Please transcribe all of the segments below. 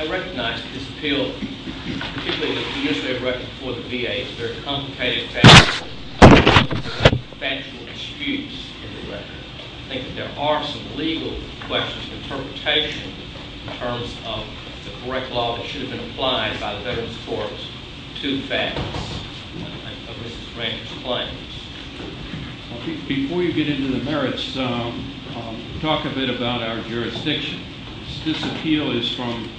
I recognize that this appeal, particularly the PSA record for the VA, is a very complicated factual excuse in the record. I think that there are some legal questions of interpretation in terms of the correct law that should have been applied by the Veterans Corps to facts of Mrs. Ranger's claims. Before you get into the merits, talk a bit about our jurisdiction. This appeal is from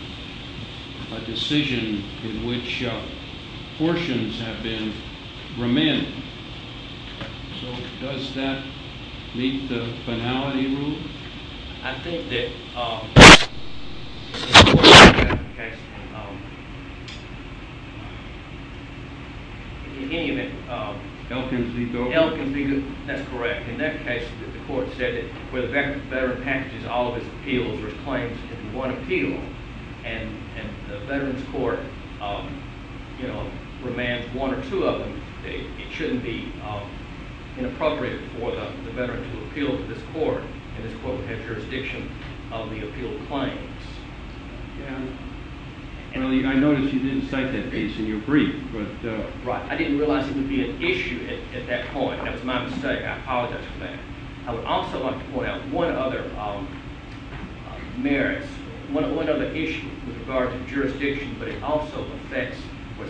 a decision in which portions have been remanded. Does that meet the finality rule? I think that, in any event, L can be good. That's correct. In that case, the court said where the veteran packages all of his appeals or his claims into one appeal, and the veterans court remands one or two of them, it shouldn't be inappropriate for the veteran to appeal to this court, and this court would have jurisdiction of the appealed claims. I noticed you didn't cite that case in your brief. I didn't realize it would be an issue at that point. That was my mistake. I apologize for that. I would also like to point out one other issue with regard to jurisdiction, but it was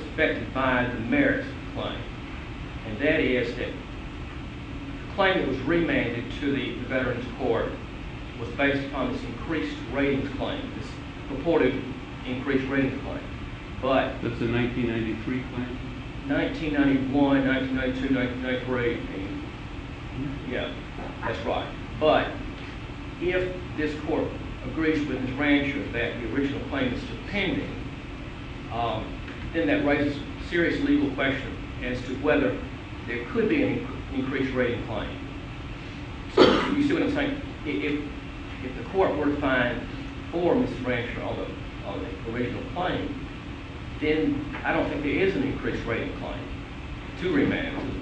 based upon this increased ratings claim, this purported increased ratings claim. That's the 1993 claim? 1991, 1992, 1993, yeah, that's right. But if this court agrees with Mrs. Ranger that the original claim is dependent, then that raises a serious legal question as to whether there could be an increased rating claim. So, you see what I'm saying? If the court were to find for Mrs. Ranger of the original claim, then I don't think there is an increased rating claim to remand.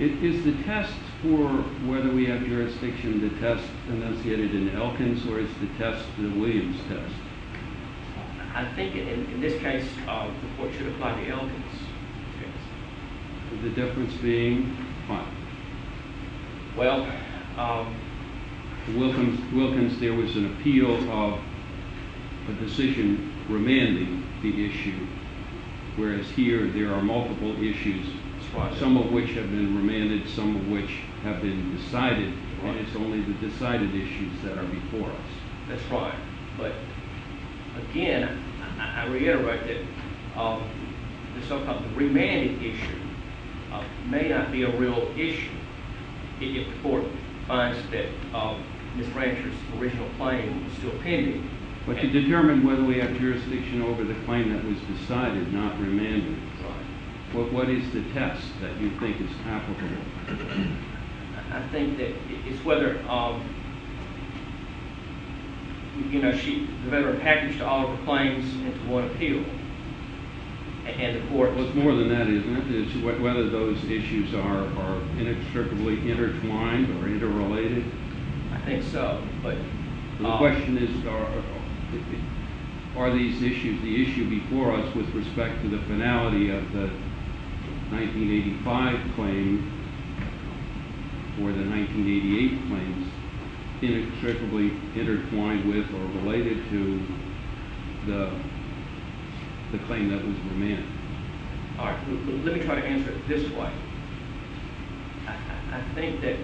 Is the test for whether we have jurisdiction, the test enunciated in Elkins, or is the test the Williams test? I think in this case the court should apply the Elkins test. The difference being what? Well, The Wilkins, there was an appeal of a decision remanding the issue, whereas here there are multiple issues, some of which have been remanded, some of which have been decided, and it's only the decided issues that are before us. That's right, but again, I reiterate that the so-called remanding issue may not be a real issue if the court finds that Mrs. Ranger's original claim is still pending. But to determine whether we have jurisdiction over the claim that was decided, not remanded, what is the test that you think is applicable? I think that it's whether, you know, whether a package to all of the claims is to what appeal, and the court Well, it's more than that, isn't it? It's whether those issues are inextricably intertwined or interrelated. I think so, but The question is are these issues, the issue before us with respect to the finality of the 1985 claim or the 1988 claims inextricably intertwined with or related to the claim that was remanded. All right, let me try to answer it this way. I think that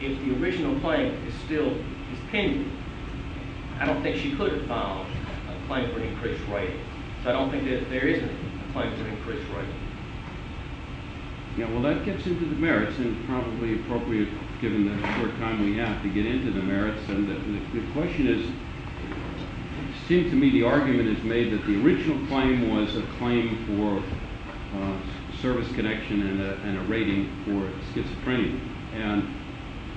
if the original claim is still pending, I don't think she could have filed a claim for an increased right. I don't think that there is a claim for an increased right. Yeah, well, that gets into the merits and probably appropriate given the short time we have to get into the merits. The question is, it seems to me the argument is made that the original claim was a claim for service connection and a rating for schizophrenia. And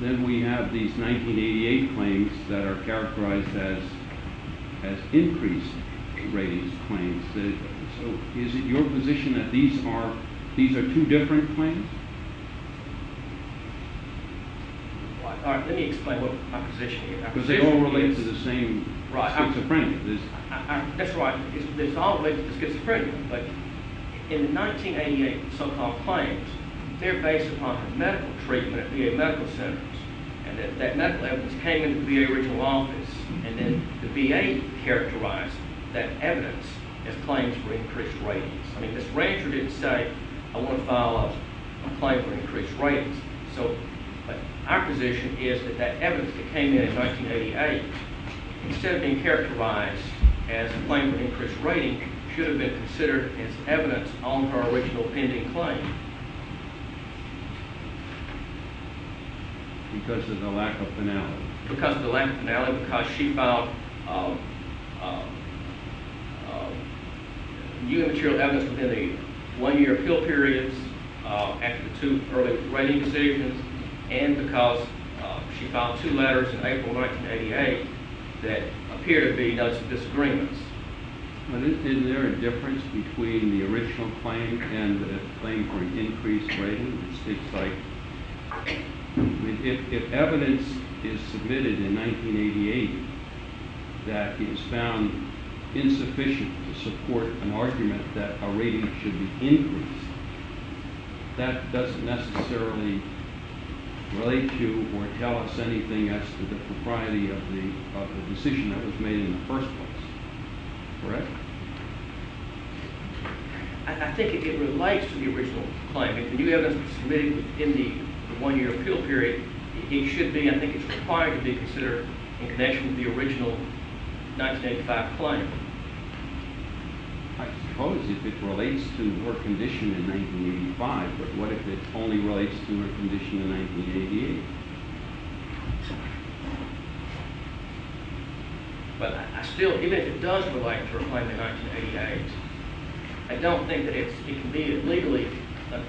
then we have these 1988 claims that are characterized as increased ratings claims. So is it your position that these are two different claims? All right, let me explain my position here. Because they all relate to the same schizophrenia. That's right. They all relate to the schizophrenia, but in the 1988 so-called claims, they're based upon medical treatment at VA medical centers. And that medical evidence came into the VA original office, and then the VA characterized that evidence as claims for increased ratings. I mean, Ms. Rancher didn't say, I want to file a claim for increased ratings. So our position is that that evidence that came in in 1988, instead of being characterized as a claim for increased rating, should have been considered as evidence on her original pending claim. Because of the lack of finality. Because of the lack of finality, because she filed new material evidence within a one-year appeal period after two early rating decisions, and because she filed two letters in April 1988 that appeared to be notes of disagreements. Isn't there a difference between the original claim and the claim for an increased rating? It's like, if evidence is submitted in 1988 that is found insufficient to support an argument that a rating should be increased, that doesn't necessarily relate to or tell us anything as to the propriety of the decision that was made in the first place. Correct? I think it relates to the original claim. If you have evidence submitted within the one-year appeal period, it should be, I think it's required to be considered in connection with the original 1985 claim. I suppose if it relates to her condition in 1985, but what if it only relates to her condition in 1988? But I still, even if it does relate to her claim in 1988, I don't think that it's legally a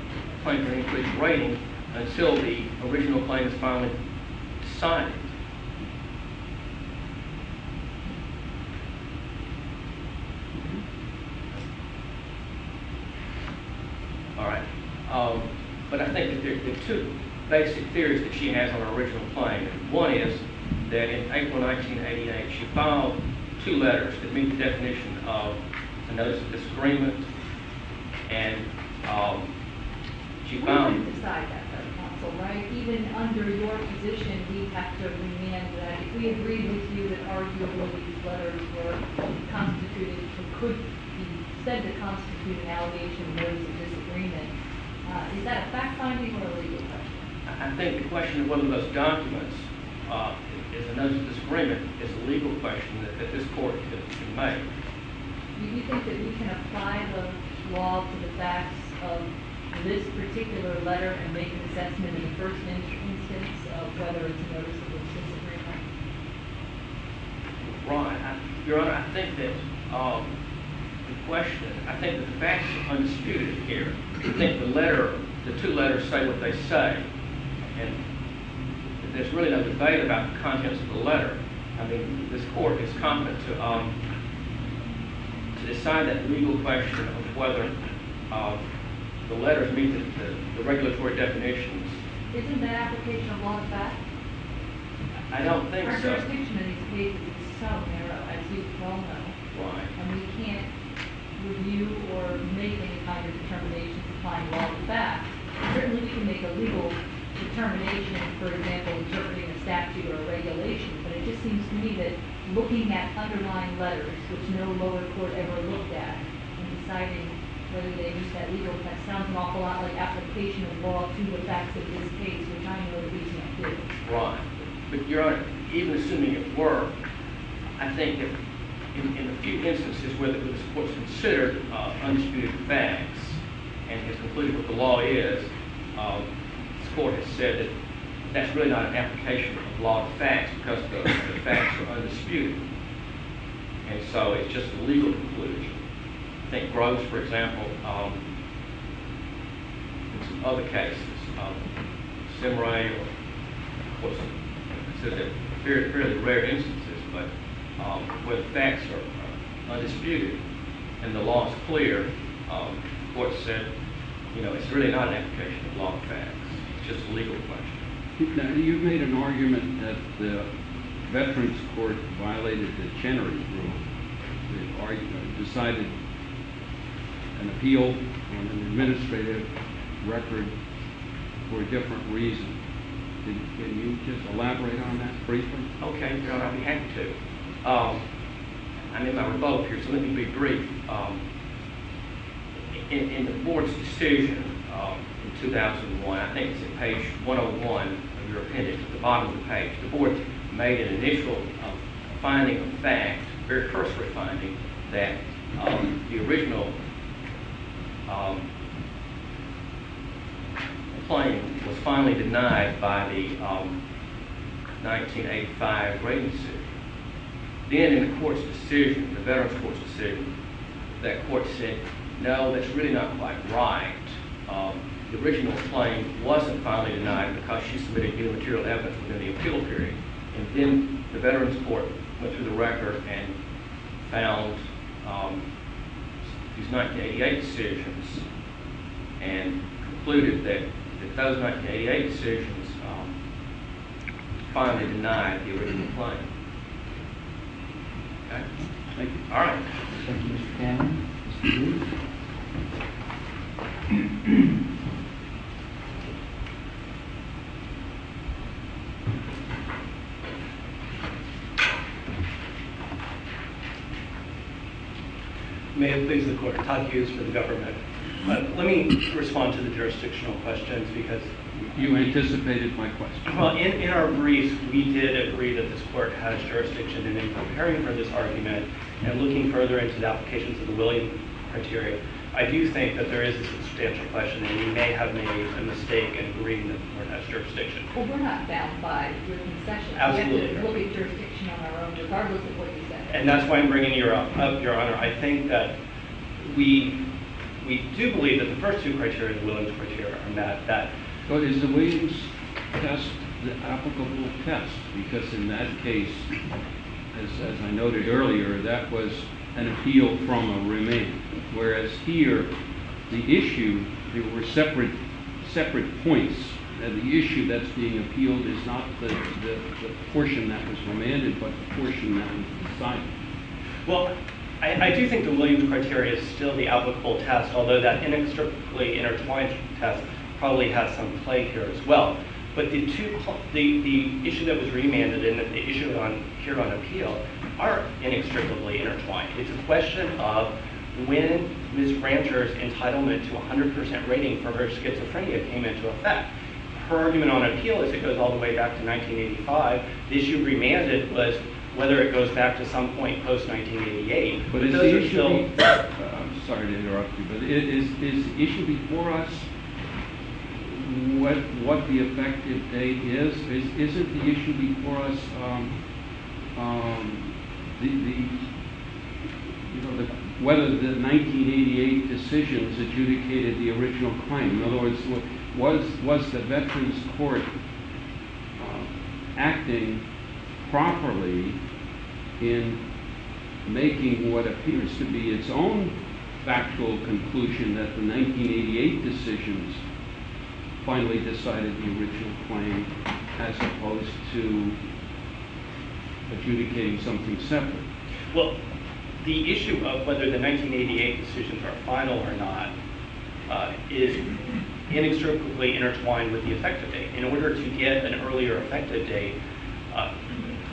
claim for an increased rating until the original claim is finally decided. Alright, but I think that there are two basic theories that she has on her original claim. One is that in April 1988, she filed two letters to meet the definition of a notice of disagreement, and she filed... We would decide that by the council, right? Even under your position, we have to amend that. We agreed with you that arguably these letters were constituted, or could be said to constitute an allegation of notice of disagreement. Is that a fact-finding or a legal question? I think the question of whether those documents is a notice of disagreement is a legal question that this Court can make. Do you think that we can apply the law to the facts of this particular letter and make an assessment in the first instance of whether it's a notice of disagreement? Your Honor, I think that the question, I think the facts are undisputed here. I think the letter, the two letters say what they say, and there's really no debate about the contents of the letter. I mean, this Court is competent to decide that legal question of whether the letters meet the regulatory definitions. Isn't that application of law a fact? I don't think so. Our constitution in these cases is so narrow, as you all know. Right. And we can't review or make any kind of determination to find all the facts. Certainly we can make a legal determination, for example, interpreting a statute or regulation, but it just seems to me that looking at underlying letters, which no lower court ever looked at, and deciding whether they meet that legal, that sounds an awful lot like application of law to the facts of this case, which I don't know the reason it did. Right. But, Your Honor, even assuming it were, I think that in a few instances where this Court has considered undisputed facts and has concluded what the law is, this Court has said that that's really not an application of law to the facts because the facts are undisputed. And so it's just a legal conclusion. I think Grubbs, for example, in some other cases, Szemerai, I said they're fairly rare instances, but where the facts are undisputed and the law is clear, the Court said it's really not an application of law to the facts. It's just a legal question. Now, you've made an argument that the Veterans Court violated the Chenery Rule. It decided an appeal on an administrative record for a different reason. Can you just elaborate on that briefly? Okay, Your Honor. I'd be happy to. I'm in my remote here, so let me be brief. In the Board's decision in 2001, I think it's in page 101 of your appendix at the that the original claim was finally denied by the 1985 rating decision. Then in the Court's decision, the Veterans Court's decision, that Court said, no, that's really not quite right. The original claim wasn't finally denied because she submitted new material evidence within the appeal period. Then the Veterans Court went through the record and found these 1988 decisions and concluded that those 1988 decisions finally denied the original claim. Thank you. All right. Thank you, Mr. Cannon. May it please the Court. Todd Hughes for the government. Let me respond to the jurisdictional questions because— You anticipated my question. Well, in our briefs, we did agree that this Court has jurisdiction, and in preparing for this argument and looking further into the applications of the William criteria, I do think that there is a substantial question that we may have made a mistake in agreeing that the Court has jurisdiction. Well, we're not bound by William's section. Absolutely. We'll get jurisdiction on our own regardless of what you say. And that's why I'm bringing you up, Your Honor. I think that we do believe that the first two criteria is William's criteria. But is the Williams test the applicable test? Because in that case, as I noted earlier, that was an appeal from a remain. Whereas here, the issue, there were separate points. And the issue that's being appealed is not the portion that was remanded, but the portion that was decided. Well, I do think the Williams criteria is still the applicable test, although that inextricably intertwined test probably has some play here as well. But the issue that was remanded and the issue here on appeal are inextricably intertwined. It's a question of when Ms. Rancher's entitlement to 100% rating for her schizophrenia came into effect. Her argument on appeal is it goes all the way back to 1985. The issue remanded was whether it goes back to some point post-1988. I'm sorry to interrupt you, but is the issue before us what the effective date is? Is it the issue before us whether the 1988 decisions adjudicated the original claim? In other words, was the Veterans Court acting properly in making what appears to be its own factual conclusion that the 1988 decisions finally decided the original claim as opposed to adjudicating something separate? Well, the issue of whether the 1988 decisions are final or not is inextricably intertwined with the effective date.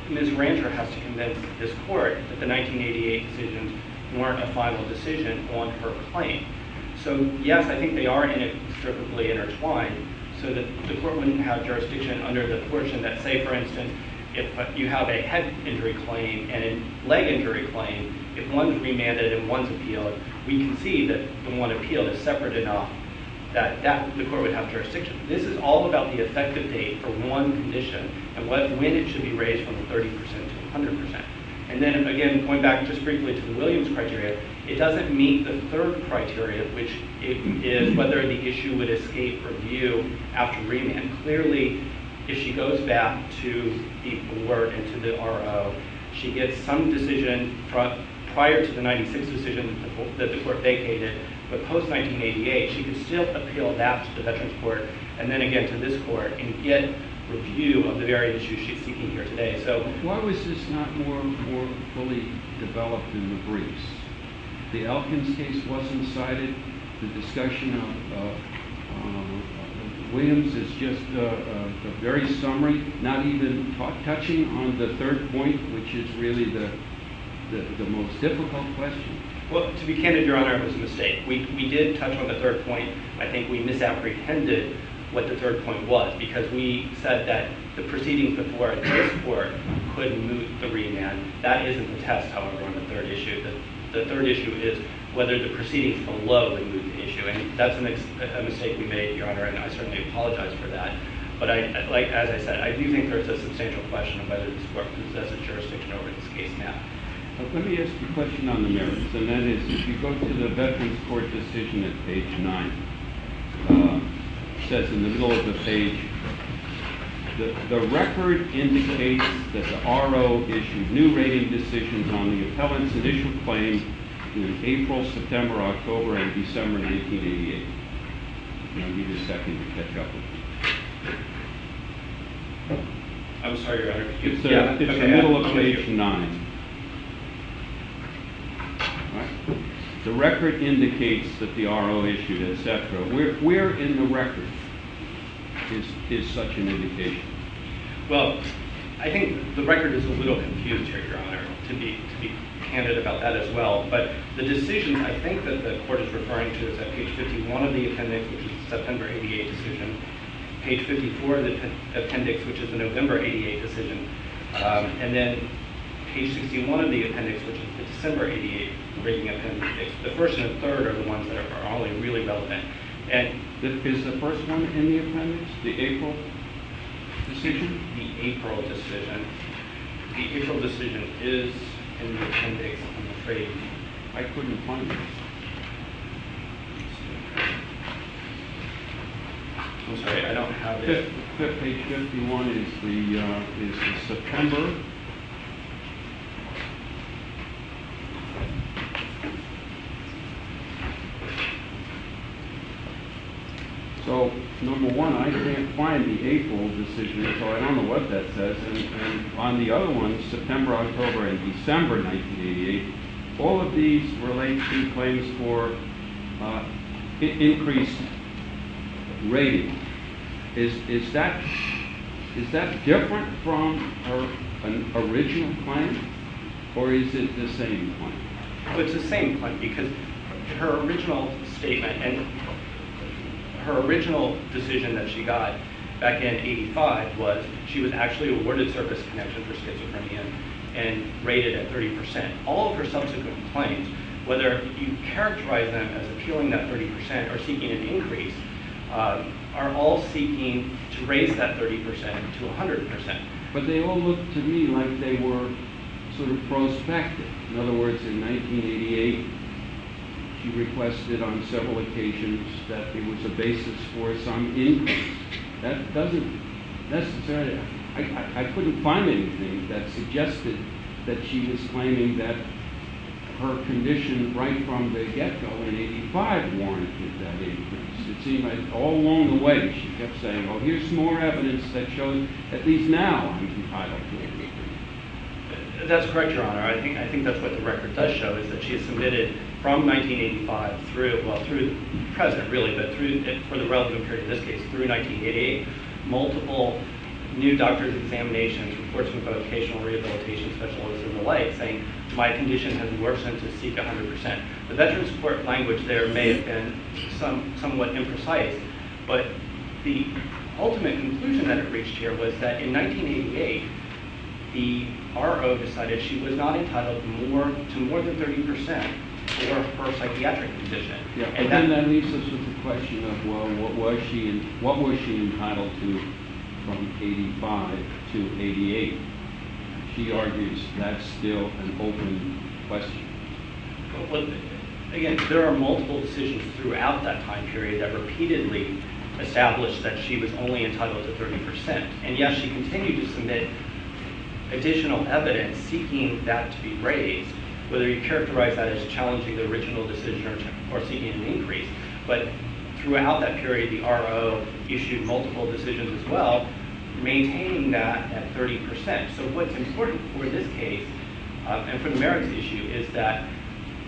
Ms. Rancher has to convince this court that the 1988 decisions weren't a final decision on her claim. So, yes, I think they are inextricably intertwined so that the court wouldn't have jurisdiction under the portion that, say, for instance, if you have a head injury claim and a leg injury claim, if one's remanded and one's appealed, we can see that the one appealed is separate enough that the court would have jurisdiction. This is all about the effective date for one condition and when it should be raised from 30% to 100%. And then, again, going back just briefly to the Williams criteria, it doesn't meet the third criteria, which is whether the issue would escape review after remand. Clearly, if she goes back to the board and to the RO, she gets some decision prior to the 1996 decision that the court vacated, but post-1988, she can still appeal that to the Veterans Court and then again to this court and get review of the very issue she's seeking here today. So why was this not more fully developed in the briefs? The Elkins case wasn't cited. The discussion of Williams is just a very summary, not even touching on the third point, which is really the most difficult question. Well, to be candid, Your Honor, it was a mistake. We did touch on the third point. I think we misapprehended what the third point was because we said that the proceedings before this court could move the remand. That isn't the test, however, on the third issue. The third issue is whether the proceedings below the moot issue. And that's a mistake we made, Your Honor, and I certainly apologize for that. But as I said, I do think there's a substantial question of whether this court possesses jurisdiction over this case now. Let me ask a question on the merits, and that is if you go to the Veterans Court decision at page 9, it says in the middle of the page, the record indicates that the RO issued new rating decisions on the appellant's initial claims in April, September, October, and December 1988. If you don't need a second to catch up with me. I'm sorry, Your Honor. It's the middle of page 9. The record indicates that the RO issued, et cetera. Where in the record is such an indication? Well, I think the record is a little confused here, Your Honor, to be candid about that as well. But the decisions I think that the court is referring to is at page 51 of the appendix, which is the September 1988 decision. Page 54 of the appendix, which is the November 1988 decision. And then page 61 of the appendix, which is the December 1988 rating appendix. The first and the third are the ones that are only really relevant. And is the first one in the appendix, the April decision? The April decision. I couldn't find it. I'm sorry, I don't have it. Fifth page 51 is the September. So, number one, I can't find the April decision, so I don't know what that says. And on the other one, September, October, and December 1988, all of these relate to claims for increased rating. Is that different from her original claim? Or is it the same claim? It's the same claim. Her original statement and her original decision that she got back in 1985 was she was actually awarded service connection for schizophrenia and rated at 30%. All of her subsequent claims, whether you characterize them as appealing that 30% or seeking an increase, are all seeking to raise that 30% to 100%. But they all look to me like they were sort of prospective. In other words, in 1988, she requested on several occasions that there was a basis for some increase. That doesn't necessarily – I couldn't find anything that suggested that she was claiming that her condition right from the get-go in 1985 warranted that increase. It seemed like all along the way she kept saying, well, here's more evidence that shows at least now I'm entitled to an increase. That's correct, Your Honor. I think that's what the record does show, is that she has submitted from 1985 through – well, through the present, really, but for the relative period in this case, through 1988, multiple new doctor's examinations, reports from vocational rehabilitation specialists and the like, saying my condition has worsened to seek 100%. The veteran support language there may have been somewhat imprecise, but the ultimate conclusion that it reached here was that in 1988, the RO decided she was not entitled to more than 30% for her psychiatric condition. And that leaves us with the question of, well, what was she entitled to from 1985 to 1988? She argues that's still an open question. Again, there are multiple decisions throughout that time period that repeatedly established that she was only entitled to 30%. And, yes, she continued to submit additional evidence seeking that to be raised, whether you characterize that as challenging the original decision or seeking an increase. But throughout that period, the RO issued multiple decisions as well, maintaining that at 30%. So what's important for this case and for the merits issue is that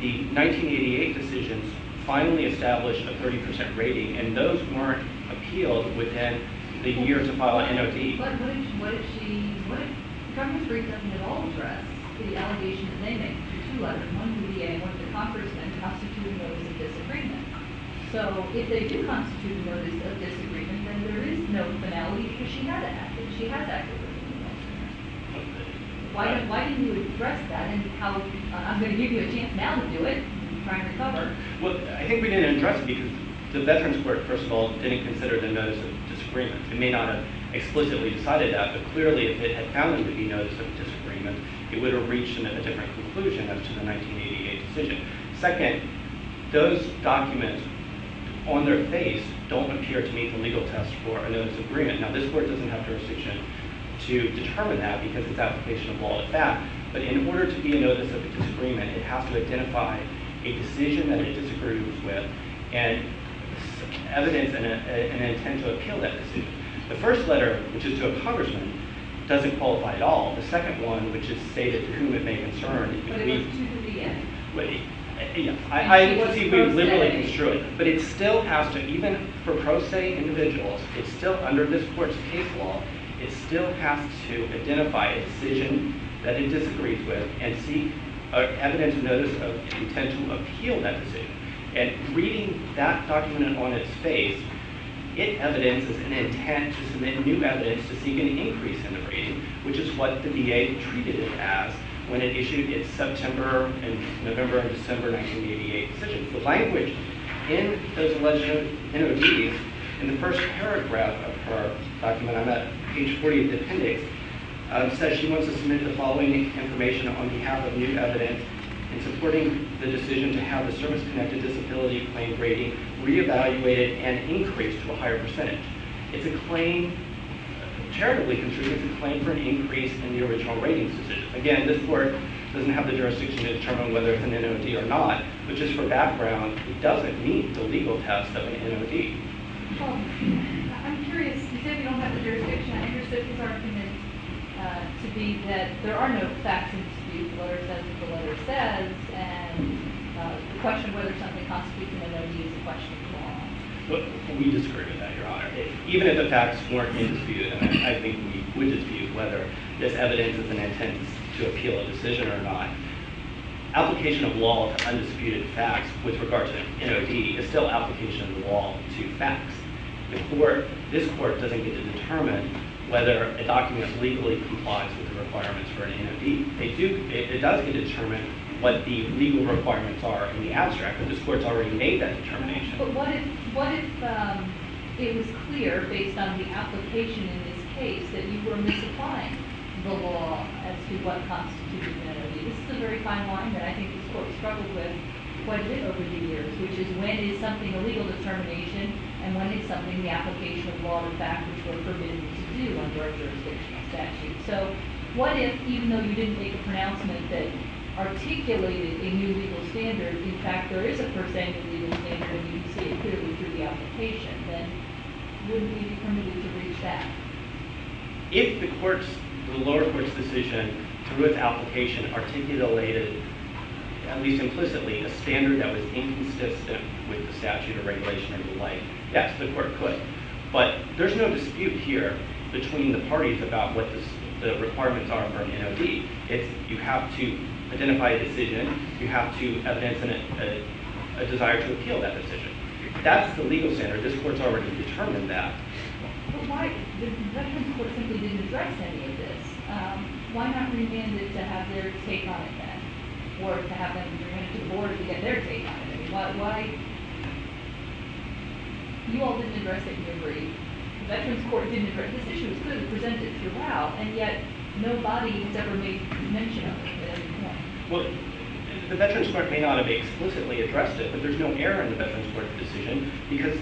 the 1988 decisions finally established a 30% rating, and those weren't appealed within the years of file of NOT. But what if she, what if the Congress really doesn't at all address the allegation that they make, that two letters, one from the VA and one from the Congressmen constitute a notice of disagreement? So if they do constitute a notice of disagreement, then there is no finality because she had that decision. Why didn't you address that and how, I'm going to give you a chance now to do it and try and recover. Well, I think we didn't address it because the Veterans Court, first of all, didn't consider the notice of disagreement. It may not have explicitly decided that, but clearly if it had found it to be notice of disagreement, it would have reached a different conclusion as to the 1988 decision. Second, those documents on their face don't appear to meet the legal test for a notice of agreement. Now, this Court doesn't have jurisdiction to determine that because it's application of law at that, but in order to be a notice of disagreement, it has to identify a decision that it disagrees with and evidence and an intent to appeal that decision. The first letter, which is to a Congressman, doesn't qualify at all. The second one, which is stated to whom it may concern, But it goes to the VA. I don't think we've liberally construed it, but it still has to, even for pro se individuals, it still, under this Court's case law, it still has to identify a decision that it disagrees with and seek evidence of notice of intent to appeal that decision. And reading that document on its face, it evidences an intent to submit new evidence to seek an increase in the rating, which is what the VA treated it as when it issued its September and November and December 1988 decisions. The language in those alleged NODs, in the first paragraph of her document, I'm at page 40 of the appendix, says she wants to submit the following information on behalf of new evidence in supporting the decision to have the service-connected disability claim rating re-evaluated and increased to a higher percentage. It's a claim, terribly construed, it's a claim for an increase in the original rating. Again, this Court doesn't have the jurisdiction to determine whether it's an NOD or not, but just for background, it doesn't meet the legal test of an NOD. I'm curious, you said you don't have the jurisdiction. I understood his argument to be that there are no facts to dispute the letter says what the letter says, and the question of whether something constitutes an NOD is a question of law. We disagree with that, Your Honor. Even if the facts weren't in dispute, and I think we dispute whether this evidence has an intent to appeal a decision or not, application of law to undisputed facts with regard to an NOD is still application of law to facts. This Court doesn't get to determine whether a document legally complies with the requirements for an NOD. It does get to determine what the legal requirements are in the abstract, but this Court's already made that determination. But what if it was clear, based on the application in this case, that you were misapplying the law as to what constitutes an NOD? This is a very fine line that I think this Court has struggled with quite a bit over the years, which is when is something a legal determination, and when is something the application of law and fact, which were permitted to do under a jurisdictional statute. So what if, even though you didn't make a pronouncement that articulated a new legal standard, in fact there is a per se new legal standard and you say it clearly through the application, then would we be permitted to reach that? If the lower court's decision, through its application, articulated, at least implicitly, a standard that was inconsistent with the statute of regulation and the like, yes, the court could. But there's no dispute here between the parties about what the requirements are for an NOD. You have to identify a decision, you have to evidence a desire to appeal that decision. That's the legal standard. This Court's already determined that. But why, the Veterans Court simply didn't address any of this. Why not remand it to have their take on it then? Or to have them remand it to the Board to get their take on it? Why, you all didn't address it in your brief. The Veterans Court didn't address this issue. This issue was presented throughout, and yet nobody has ever made mention of it at any point. Well, the Veterans Court may not have explicitly addressed it, but there's no error in the Veterans Court's decision, because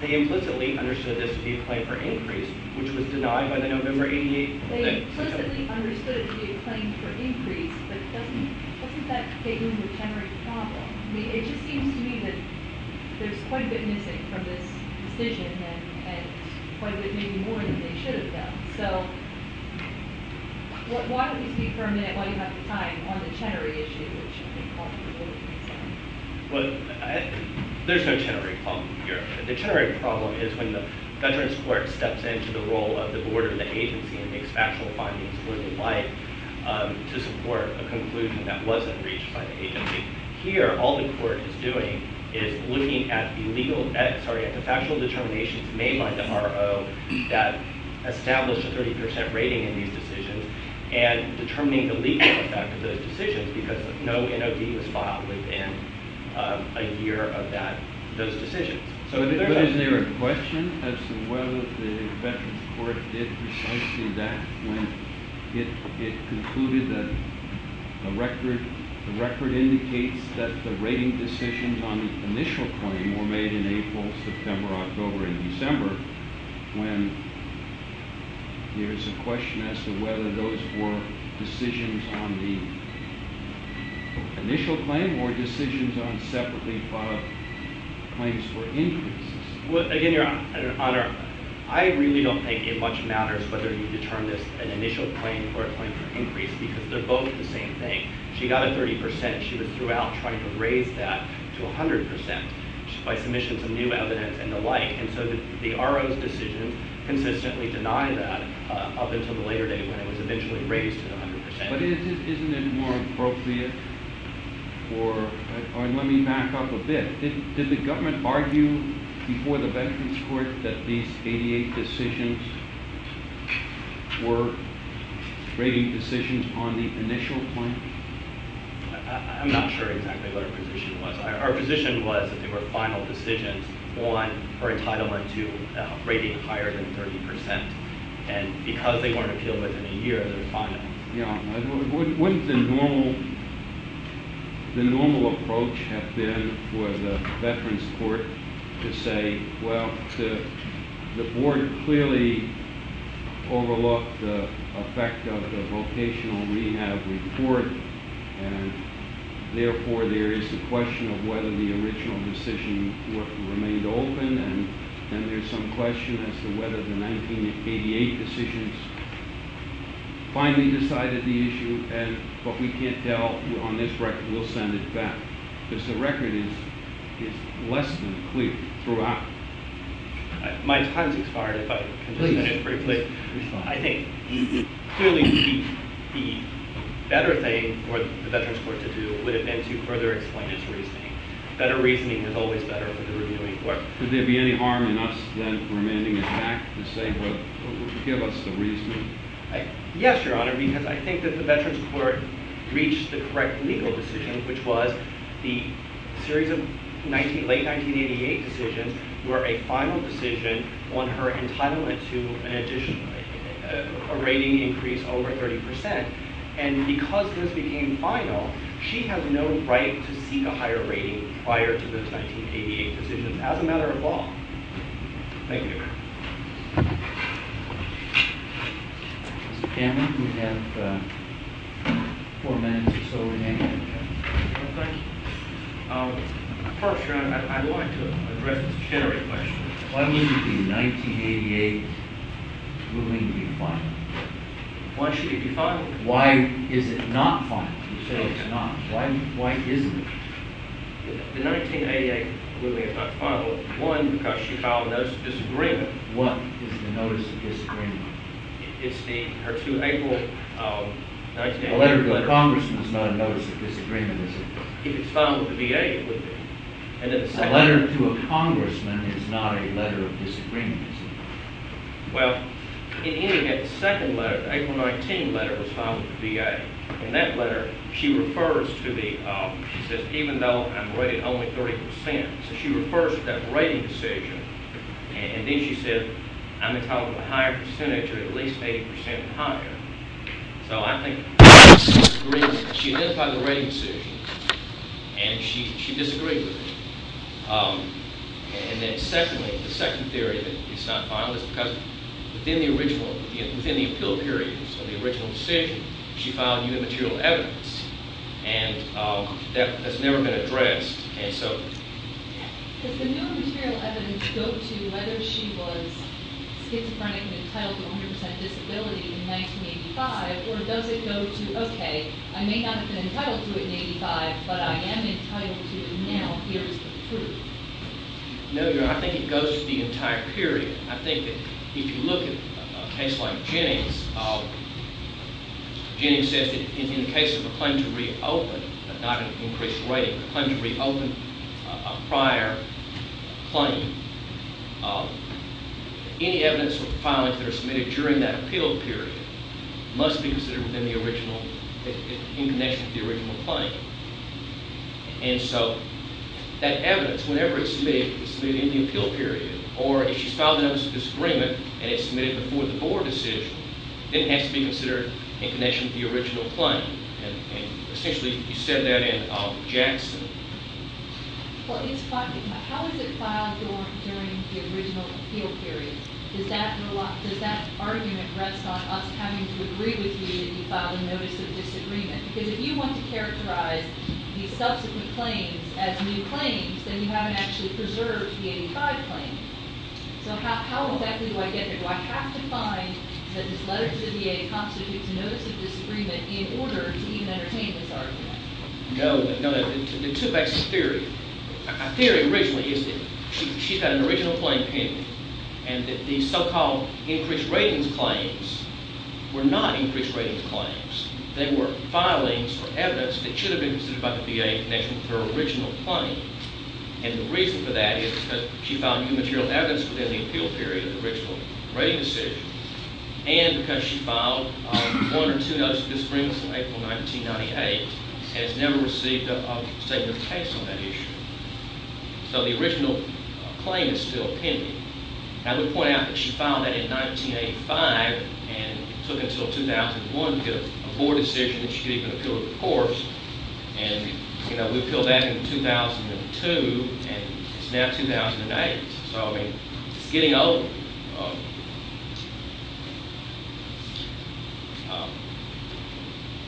they implicitly understood this to be a claim for increase, which was denied by the November 88... They implicitly understood it to be a claim for increase, but doesn't that get in the Chenery problem? I mean, it just seems to me that there's quite a bit missing from this decision, and quite a bit, maybe more than they should have done. So, why don't you speak for a minute while you have the time on the Chenery issue, which I think all of you will be concerned about. Well, there's no Chenery problem here. The Chenery problem is when the Veterans Court steps into the role of the Board or the agency and makes factual findings worthy of light to support a conclusion that wasn't reached by the agency. Here, all the Court is doing is looking at the factual determinations made by the RO that established a 30% rating in these decisions, and determining the legal effect of those decisions, because no NOD was filed within a year of those decisions. But is there a question as to whether the Veterans Court did precisely that when it concluded that the record indicates that the rating decisions on the initial claim were made in April, September, October, and December, when there's a question as to whether those were decisions on the initial claim or decisions on separately filed claims for increases? Well, again, Your Honor, I really don't think it much matters whether you determine this an initial claim or a claim for increase, because they're both the same thing. She got a 30%. She was throughout trying to raise that to 100% by submission to new evidence and the like. And so the RO's decision consistently denied that up until the later date when it was eventually raised to 100%. But isn't it more appropriate for – let me back up a bit. Did the government argue before the Veterans Court that these 88 decisions were rating decisions on the initial claim? I'm not sure exactly what our position was. Our position was that they were final decisions on her entitlement to a rating higher than 30%. And because they weren't appealed within a year, they were final. Wouldn't the normal approach have been for the Veterans Court to say, well, the board clearly overlooked the effect of the vocational rehab report, and therefore there is the question of whether the original decision remained open, and then there's some question as to whether the 1988 decisions finally decided the issue. But we can't tell on this record. We'll send it back. Because the record is less than clear throughout. My time's expired if I can just say it briefly. Please. I think clearly the better thing for the Veterans Court to do would have been to further explain its reasoning. Better reasoning is always better for the reviewing court. Would there be any harm in us then remanding it back to say, well, give us the reasoning? Yes, Your Honor, because I think that the Veterans Court reached the correct legal decision, which was the series of late 1988 decisions were a final decision on her entitlement to an addition, a rating increase over 30 percent. And because this became final, she has no right to seek a higher rating prior to those 1988 decisions as a matter of law. Thank you, Your Honor. Mr. Cameron, you have four minutes or so remaining. Thank you. First, Your Honor, I'd like to address this general question. Why wouldn't the 1988 ruling be final? Why should it be final? Why is it not final? You say it's not. Why isn't it? The 1988 ruling is not final. One, because she filed a notice of disagreement. What is the notice of disagreement? It's her 2 April 1988 letter. A letter to a congressman is not a notice of disagreement, is it? If it's final to be a, it would be. A letter to a congressman is not a letter of disagreement, is it? Well, in any event, the second letter, the April 19 letter, was filed with the VA. In that letter, she refers to the, she says, even though I'm rated only 30 percent. So she refers to that rating decision. And then she said, I'm entitled to a higher percentage or at least 80 percent higher. So I think she disagrees. She identified the rating decision, and she disagreed with it. And then secondly, the second theory that it's not final is because within the original, within the appeal period of the original decision, she filed new material evidence. And that has never been addressed. Does the new material evidence go to whether she was schizophrenic and entitled to 100 percent disability in 1985? Or does it go to, okay, I may not have been entitled to it in 1985, but I am entitled to it now. Here is the proof. No, Your Honor, I think it goes to the entire period. I think that if you look at a case like Jennings, Jennings says that in the case of a claim to reopen, not an increased rating, but a claim to reopen a prior claim, any evidence or filings that are submitted during that appeal period must be considered within the original, in connection with the original claim. And so that evidence, whenever it's submitted, it's submitted in the appeal period. Or if she's filed another disagreement and it's submitted before the board decision, then it has to be considered in connection with the original claim. Essentially, you said that in Jackson. Well, how is it filed during the original appeal period? Does that argument rest on us having to agree with you that you filed a notice of disagreement? Because if you want to characterize the subsequent claims as new claims, then you haven't actually preserved the 1985 claim. So how exactly do I get there? Do I have to find that this letter to the VA constitutes a notice of disagreement in order to even entertain this argument? No. The two-faceted theory. A theory originally is that she's got an original claim pending and that these so-called increased ratings claims were not increased ratings claims. They were filings or evidence that should have been considered by the VA in connection with her original claim. And the reason for that is because she filed new material evidence within the appeal period of the original rating decision and because she filed one or two notices of disagreements in April 1998 and has never received a statement of case on that issue. So the original claim is still pending. Now, we point out that she filed that in 1985 and it took until 2001 to get a board decision that she could even appeal to the courts. And, you know, we appealed that in 2002 and it's now 2008. So, I mean, it's getting old.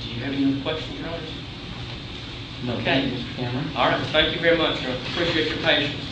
Do you have any other questions or comments? Okay. All right. Thank you very much. I appreciate your patience.